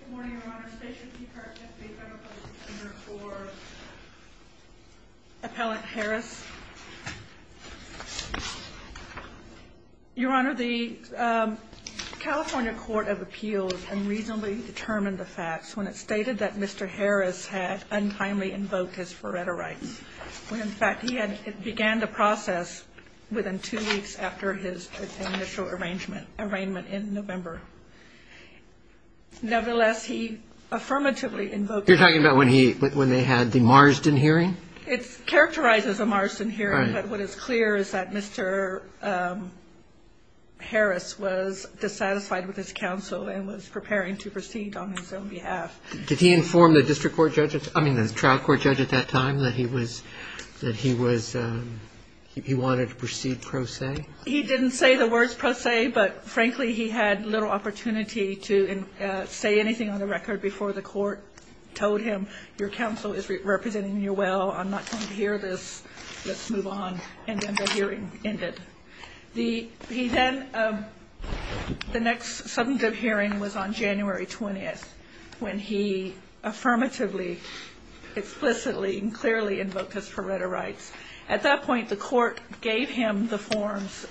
Good morning, Your Honor. State your name and card, please. I'm a public defender for Appellant Harris. Your Honor, the California Court of Appeals unreasonably determined the facts when it stated that Mr. Harris had untimely invoked his Faretta rights, when in fact he began the process within two weeks after his initial arrangement in November. Nevertheless, he affirmatively invoked it. You're talking about when they had the Marsden hearing? It's characterized as a Marsden hearing. Right. But what is clear is that Mr. Harris was dissatisfied with his counsel and was preparing to proceed on his own behalf. Did he inform the district court judge, I mean the trial court judge at that time, that he was he wanted to proceed pro se? He didn't say the words pro se, but frankly, he had little opportunity to say anything on the record before the court told him, your counsel is representing you well, I'm not going to hear this, let's move on, and then the hearing ended. He then, the next substantive hearing was on January 20th, when he affirmatively, explicitly, and clearly invoked his Faretta rights. At that point, the court gave him the forms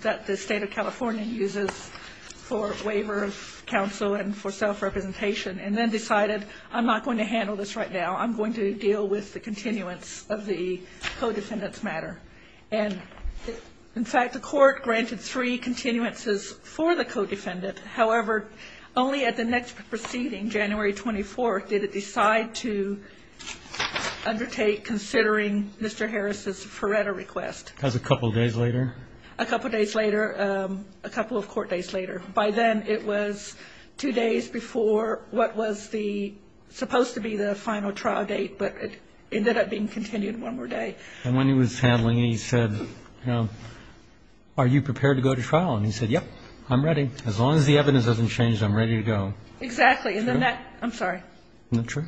that the state of California uses for waiver of counsel and for self-representation, and then decided I'm not going to handle this right now, I'm going to deal with the continuance of the co-defendant's matter. And in fact, the court granted three continuances for the co-defendant. However, only at the next proceeding, January 24th, did it decide to undertake considering Mr. Harris' Faretta request. That was a couple of days later? A couple of days later, a couple of court days later. By then, it was two days before what was the supposed to be the final trial date, but it ended up being continued one more day. And when he was handling it, he said, you know, are you prepared to go to trial? And he said, yep, I'm ready. As long as the evidence doesn't change, I'm ready to go. Exactly. Is that true? I'm sorry. Is that true?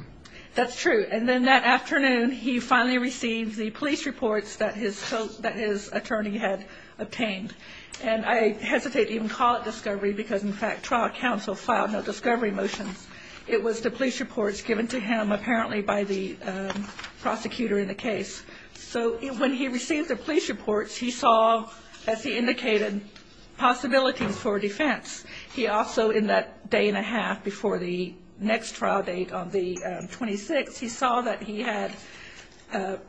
That's true. And then that afternoon, he finally received the police reports that his attorney had obtained. And I hesitate to even call it discovery because, in fact, trial counsel filed no discovery motions. It was the police reports given to him, apparently, by the prosecutor in the case. So when he received the police reports, he saw, as he indicated, possibilities for defense. He also, in that day and a half before the next trial date on the 26th, he saw that he had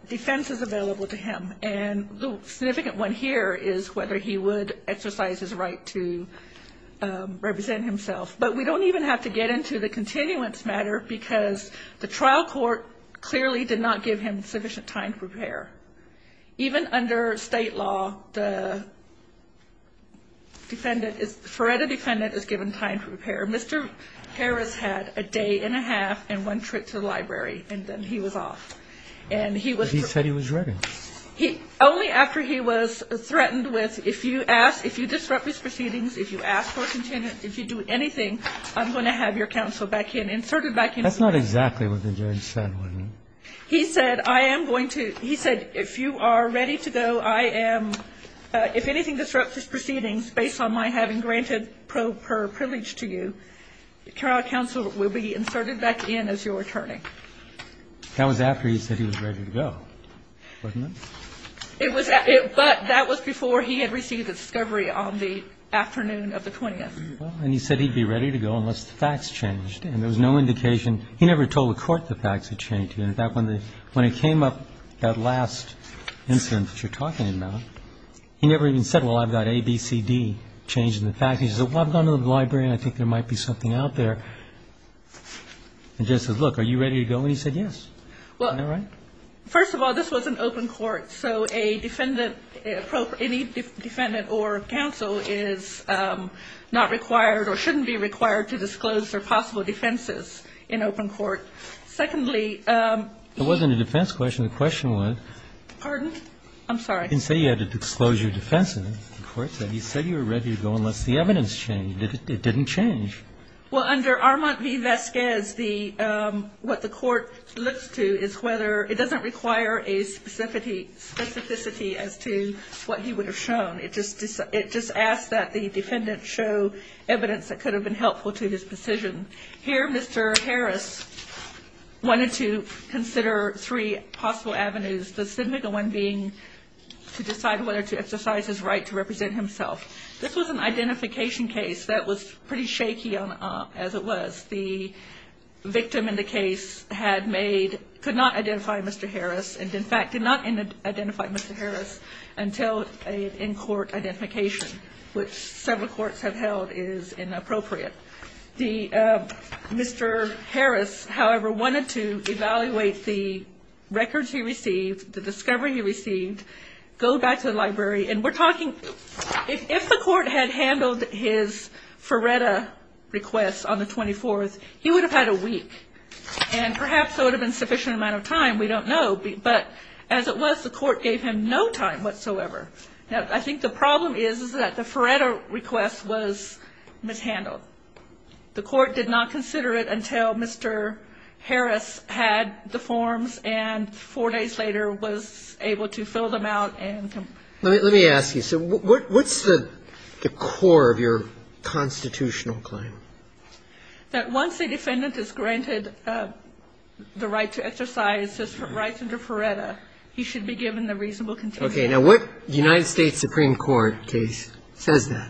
defenses available to him. And the significant one here is whether he would exercise his right to represent himself. But we don't even have to get into the continuance matter because the trial court clearly did not give him sufficient time to prepare. Even under state law, the defendant is ‑‑ the FERETA defendant is given time to prepare. Mr. Harris had a day and a half and one trip to the library, and then he was off. But he said he was ready. And he was ready. And then he went back in. And only after he was threatened with, if you ask ‑‑ if you disrupt these proceedings, if you ask for a continuance, if you do anything, I'm going to have your counsel back in, inserted back in. That's not exactly what the judge said, was it? He said, I am going to ‑‑ he said, if you are ready to go, I am ‑‑ if anything disrupts these proceedings based on my having granted pro per privilege to you, trial counsel will be inserted back in as your attorney. That was after he said he was ready to go, wasn't it? It was ‑‑ but that was before he had received a discovery on the afternoon of the 20th. And he said he'd be ready to go unless the facts changed. And there was no indication ‑‑ he never told the court the facts had changed. In fact, when it came up, that last incident that you're talking about, he never even said, well, I've got A, B, C, D changed in the facts. He said, well, I've gone to the library and I think there might be something out there. The judge said, look, are you ready to go? And he said yes. Isn't that right? Well, first of all, this was an open court, so a defendant, any defendant or counsel is not required or shouldn't be required to disclose their possible defenses in open court. Secondly ‑‑ It wasn't a defense question. The question was ‑‑ Pardon? I'm sorry. You didn't say you had to disclose your defense in it. The court said you said you were ready to go unless the evidence changed. It didn't change. Well, under Armand v. Vasquez, what the court looks to is whether ‑‑ it doesn't require a specificity as to what he would have shown. It just asks that the defendant show evidence that could have been helpful to his decision. Here, Mr. Harris wanted to consider three possible avenues, the significant one being to decide whether to exercise his right to represent himself. This was an identification case that was pretty shaky as it was. The victim in the case had made ‑‑ could not identify Mr. Harris and, in fact, did not identify Mr. Harris until an in‑court identification, which several courts have held is inappropriate. Mr. Harris, however, wanted to evaluate the records he received, the discovery he received, go back to the library. And we're talking ‑‑ if the court had handled his Ferretta request on the 24th, he would have had a week. And perhaps there would have been a sufficient amount of time. We don't know. But as it was, the court gave him no time whatsoever. Now, I think the problem is, is that the Ferretta request was mishandled. The court did not consider it until Mr. Harris had the forms and four days later was able to fill them out and ‑‑ Let me ask you. So what's the core of your constitutional claim? That once a defendant is granted the right to exercise his rights under Ferretta, he should be given the reasonable contingency. Okay. Now, what United States Supreme Court case says that?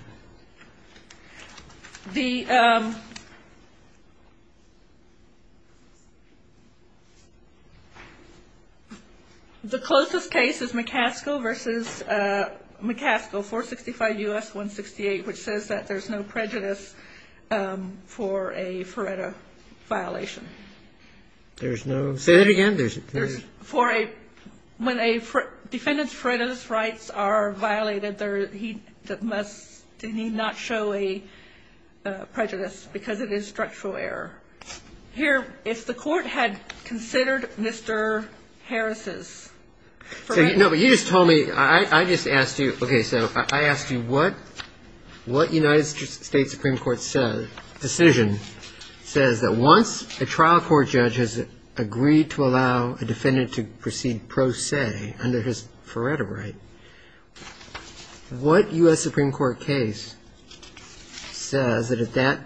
The closest case is McCaskill v. McCaskill, 465 U.S. 168, which says that there's no prejudice for a Ferretta violation. There's no ‑‑ say that again. When a defendant's Ferretta's rights are violated, he must not show a prejudice because it is structural error. Here, if the court had considered Mr. Harris's ‑‑ No, but you just told me ‑‑ I just asked you, okay, so I asked you what United States Supreme Court decision says that once a trial court judge has agreed to allow a defendant to proceed pro se under his Ferretta right, what U.S. Supreme Court case says that at that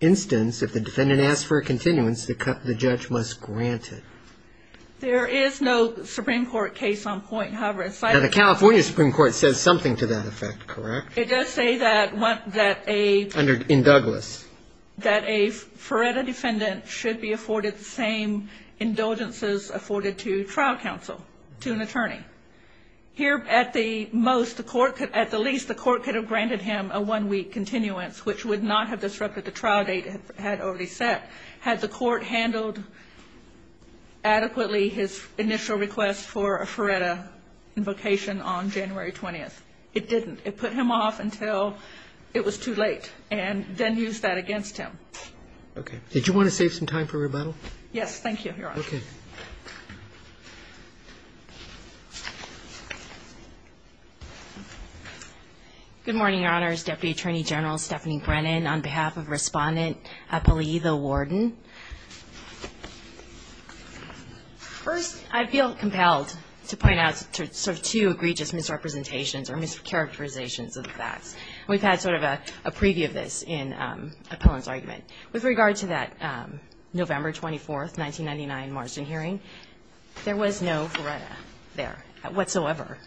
instance, if the defendant asks for a continuance, the judge must grant it? There is no Supreme Court case on point, however, aside from ‑‑ Now, the California Supreme Court says something to that effect, correct? It does say that a ‑‑ In Douglas. It says that a Ferretta defendant should be afforded the same indulgences afforded to trial counsel, to an attorney. Here, at the most, at the least, the court could have granted him a one‑week continuance, which would not have disrupted the trial date it had already set had the court handled adequately his initial request for a Ferretta invocation on January 20th. It didn't. It put him off until it was too late, and then used that against him. Okay. Did you want to save some time for rebuttal? Yes. Thank you, Your Honor. Okay. Good morning, Your Honors. Deputy Attorney General Stephanie Brennan, on behalf of Respondent Eppley, the warden. First, I feel compelled to point out sort of two egregious misrepresentations or mischaracterizations of the facts. We've had sort of a preview of this in Appellant's argument. With regard to that November 24th, 1999 Marsden hearing, there was no Ferretta there whatsoever.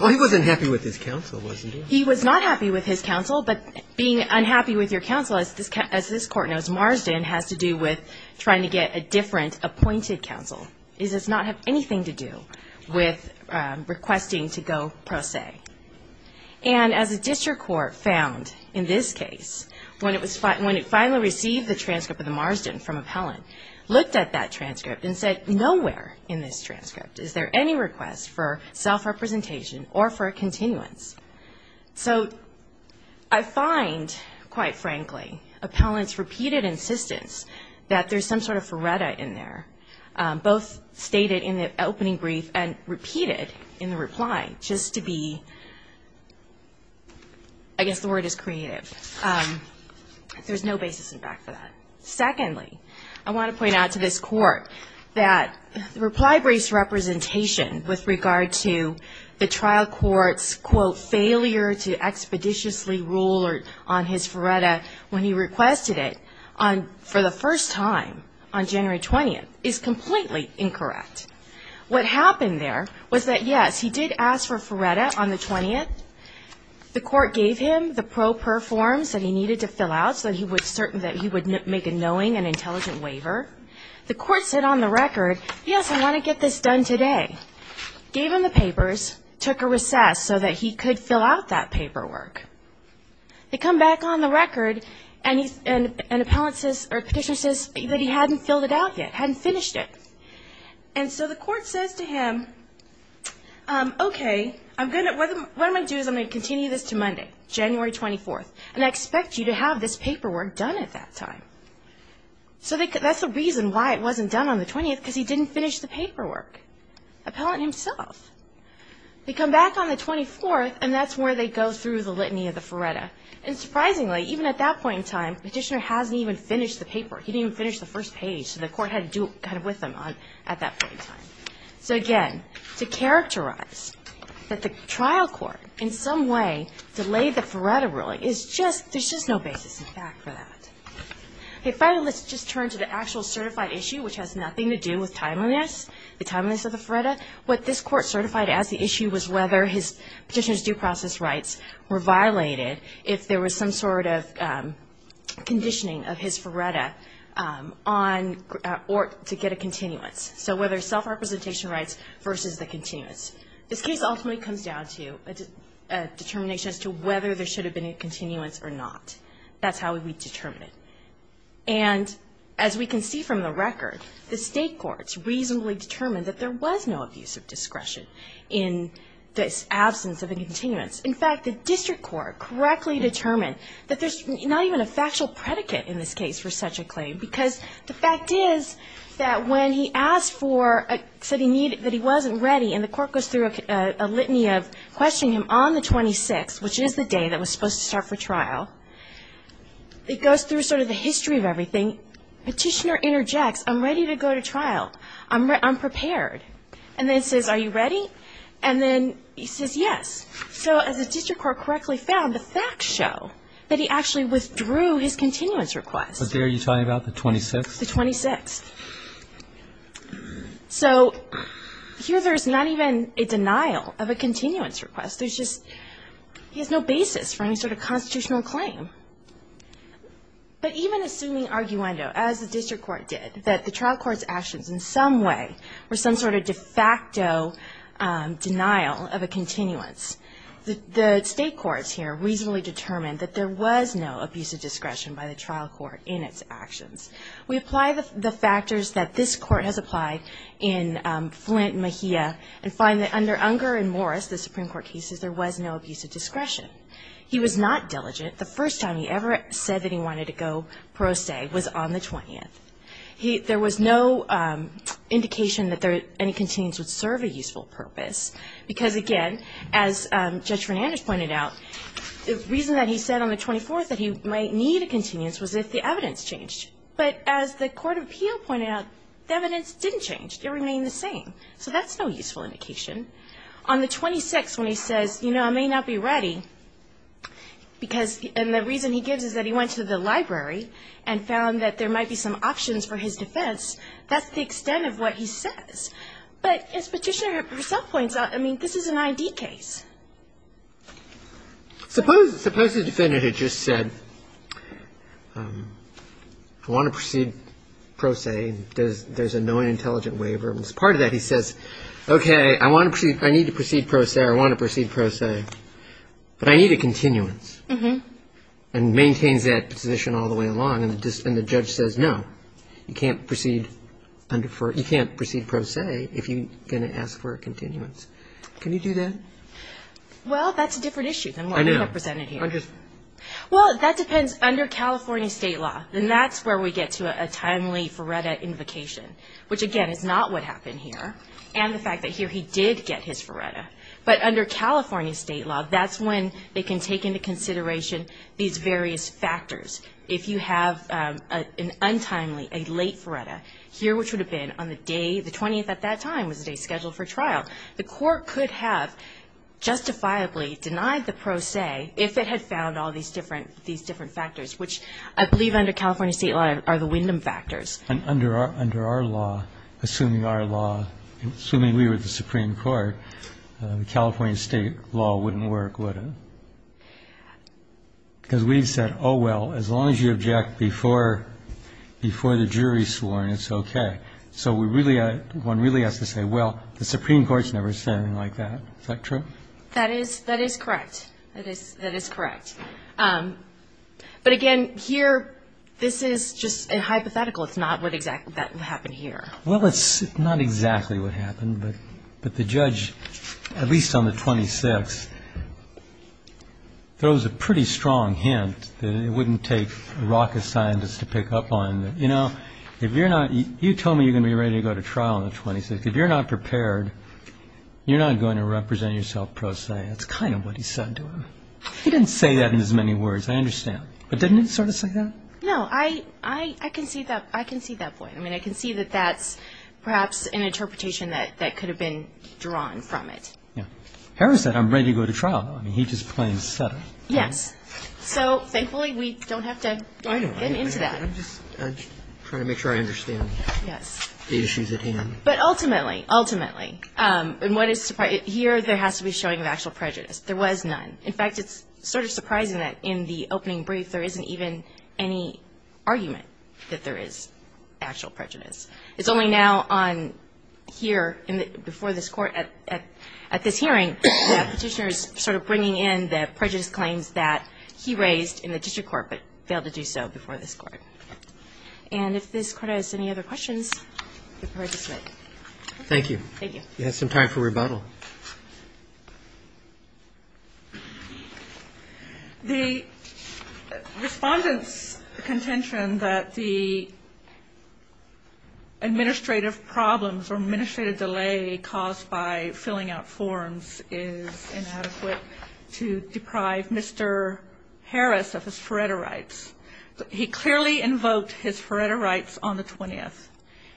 Well, he wasn't happy with his counsel, wasn't he? He was not happy with his counsel. But being unhappy with your counsel, as this court knows, Marsden has to do with trying to get a different appointed counsel. His counsel does not have anything to do with requesting to go pro se. And as a district court found in this case, when it finally received the transcript of the Marsden from Appellant, looked at that transcript and said, nowhere in this transcript is there any request for self-representation or for a continuance. So I find, quite frankly, Appellant's repeated insistence that there's some sort of Ferretta in there, both stated in the opening brief and repeated in the reply, just to be, I guess the word is creative. There's no basis in fact for that. Secondly, I want to point out to this court that the reply braced representation with regard to the trial court's, quote, failure to expeditiously rule on his Ferretta when he requested it. For the first time on January 20th, is completely incorrect. What happened there was that, yes, he did ask for Ferretta on the 20th. The court gave him the pro per forms that he needed to fill out so that he would make a knowing and intelligent waiver. The court said on the record, yes, I want to get this done today. Gave him the papers, took a recess so that he could fill out that paperwork. They come back on the record and Appellant says, or Petitioner says, that he hadn't filled it out yet, hadn't finished it. And so the court says to him, okay, I'm going to, what I'm going to do is I'm going to continue this to Monday, January 24th, and I expect you to have this paperwork done at that time. So that's the reason why it wasn't done on the 20th, because he didn't finish the paperwork. Appellant himself. They come back on the 24th, and that's where they go through the litany of the Ferretta. And surprisingly, even at that point in time, Petitioner hasn't even finished the paperwork. He didn't even finish the first page, so the court had to do it kind of with him at that point in time. So again, to characterize that the trial court in some way delayed the Ferretta ruling is just, there's just no basis in fact for that. Okay, finally, let's just turn to the actual certified issue, which has nothing to do with timeliness, the timeliness of the Ferretta. What this court certified as the issue was whether Petitioner's due process rights were violated if there was some sort of conditioning of his Ferretta on, or to get a continuance. So whether self-representation rights versus the continuance. This case ultimately comes down to a determination as to whether there should have been a continuance or not. That's how we determine it. And as we can see from the record, the state courts reasonably determined that there was no abuse of discretion in this absence of a continuance. In fact, the district court correctly determined that there's not even a factual predicate in this case for such a claim, because the fact is that when he asked for, said he needed, that he wasn't ready, and the court goes through a litany of questioning him on the 26th, it goes through sort of the history of everything. Petitioner interjects, I'm ready to go to trial. I'm prepared. And then says, are you ready? And then he says, yes. So as the district court correctly found, the facts show that he actually withdrew his continuance request. But there you're talking about the 26th? The 26th. So here there's not even a denial of a continuance request. There's just, he has no basis for any sort of constitutional claim. But even assuming arguendo, as the district court did, that the trial court's actions in some way were some sort of de facto denial of a continuance, the state courts here reasonably determined that there was no abuse of discretion by the trial court in its actions. We apply the factors that this court has applied in Flint and Mejia, and find that under Unger and Morris, the Supreme Court cases, there was no abuse of discretion. He was not diligent. The first time he ever said that he wanted to go pro se was on the 20th. There was no indication that any continuance would serve a useful purpose. Because, again, as Judge Fernandez pointed out, the reason that he said on the 24th that he might need a continuance was if the evidence changed. But as the court of appeal pointed out, the evidence didn't change. It remained the same. So that's no useful indication. On the 26th, when he says, you know, I may not be ready, and the reason he gives is that he went to the library and found that there might be some options for his defense, that's the extent of what he says. But as Petitioner herself points out, I mean, this is an I.D. case. Suppose the defendant had just said, I want to proceed pro se. There's a knowing, intelligent waiver. Part of that, he says, okay, I want to proceed, I need to proceed pro se, I want to proceed pro se. But I need a continuance. And maintains that position all the way along. And the judge says, no, you can't proceed pro se if you're going to ask for a continuance. Can you do that? Well, that's a different issue than what we have presented here. Well, that depends under California state law. And that's where we get to a timely FARETA invocation. Which, again, is not what happened here. And the fact that here he did get his FARETA. But under California state law, that's when they can take into consideration these various factors. If you have an untimely, a late FARETA, here which would have been on the day, the 20th at that time was the day scheduled for trial, the court could have justifiably denied the pro se if it had found all these different factors. Which I believe under California state law are the Wyndham factors. And under our law, assuming our law, assuming we were the Supreme Court, California state law wouldn't work, would it? Because we've said, oh, well, as long as you object before the jury is sworn, it's okay. So one really has to say, well, the Supreme Court has never said anything like that. Is that true? That is correct. That is correct. But, again, here this is just a hypothetical. It's not what exactly happened here. Well, it's not exactly what happened. But the judge, at least on the 26th, throws a pretty strong hint that it wouldn't take a rocket scientist to pick up on. You know, if you're not, you told me you're going to be ready to go to trial on the 26th. If you're not prepared, you're not going to represent yourself pro se. That's kind of what he said to him. He didn't say that in as many words, I understand. But didn't he sort of say that? No, I can see that point. I mean, I can see that that's perhaps an interpretation that could have been drawn from it. Yeah. Harris said, I'm ready to go to trial. I mean, he just plain said it. Yes. So, thankfully, we don't have to get into that. I know. I'm just trying to make sure I understand the issues at hand. Yes. But ultimately, ultimately, here there has to be showing of actual prejudice. There was none. In fact, it's sort of surprising that in the opening brief there isn't even any argument that there is actual prejudice. It's only now on here, before this Court, at this hearing, that Petitioner is sort of bringing in the prejudice claims that he raised in the district court, but failed to do so before this Court. And if this Court has any other questions, I'd prefer to submit. Thank you. Thank you. We have some time for rebuttal. The Respondent's contention that the administrative problems or administrative delay caused by filling out forms is inadequate to deprive Mr. Harris of his Faretta rights. He clearly invoked his Faretta rights on the 20th.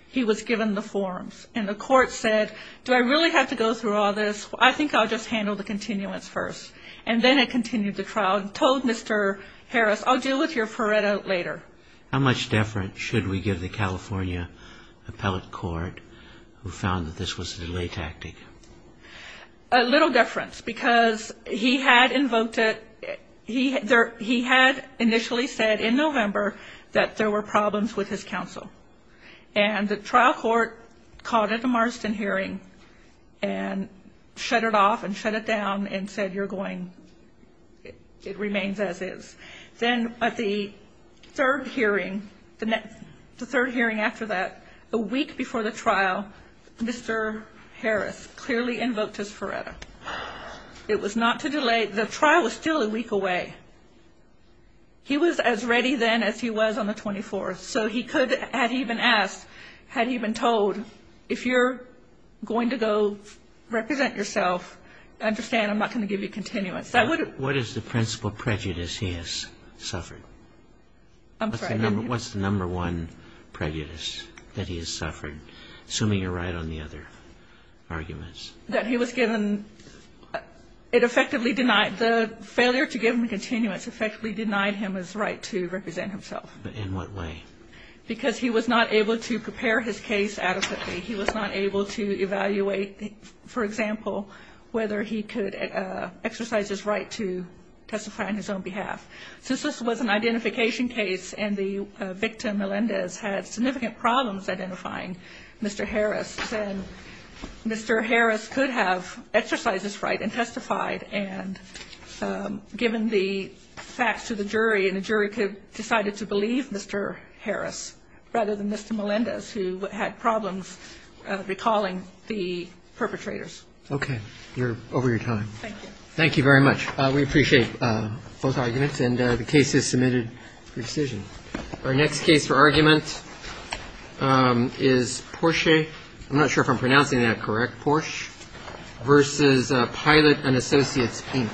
He was given the forms. And the Court said, do I really have to go through all this? I think I'll just handle the continuance first. And then it continued the trial and told Mr. Harris, I'll deal with your Faretta later. How much deference should we give the California Appellate Court who found that this was a delay tactic? A little deference because he had invoked it. He had initially said in November that there were problems with his counsel. And the trial court called it a Marston hearing and shut it off and shut it down and said you're going, it remains as is. Then at the third hearing, the third hearing after that, a week before the trial, Mr. Harris clearly invoked his Faretta. It was not to delay. The trial was still a week away. He was as ready then as he was on the 24th. So he could, had he been asked, had he been told, if you're going to go represent yourself, understand I'm not going to give you continuance. What is the principal prejudice he has suffered? I'm sorry. What's the number one prejudice that he has suffered, assuming you're right on the other arguments? That he was given, it effectively denied, the failure to give him continuance effectively denied him his right to represent himself. In what way? Because he was not able to prepare his case adequately. He was not able to evaluate, for example, whether he could exercise his right to testify on his own behalf. Since this was an identification case and the victim, Melendez, had significant problems identifying Mr. Harris, then Mr. Harris could have exercised his right and testified, and given the facts to the jury, and the jury could have decided to believe Mr. Harris rather than Mr. Melendez, who had problems recalling the perpetrators. Okay. You're over your time. Thank you. Thank you very much. We appreciate both arguments, and the case is submitted for decision. Our next case for argument is Porsche. I'm not sure if I'm pronouncing that correct, Porsche, versus Pilot and Associates, Pink.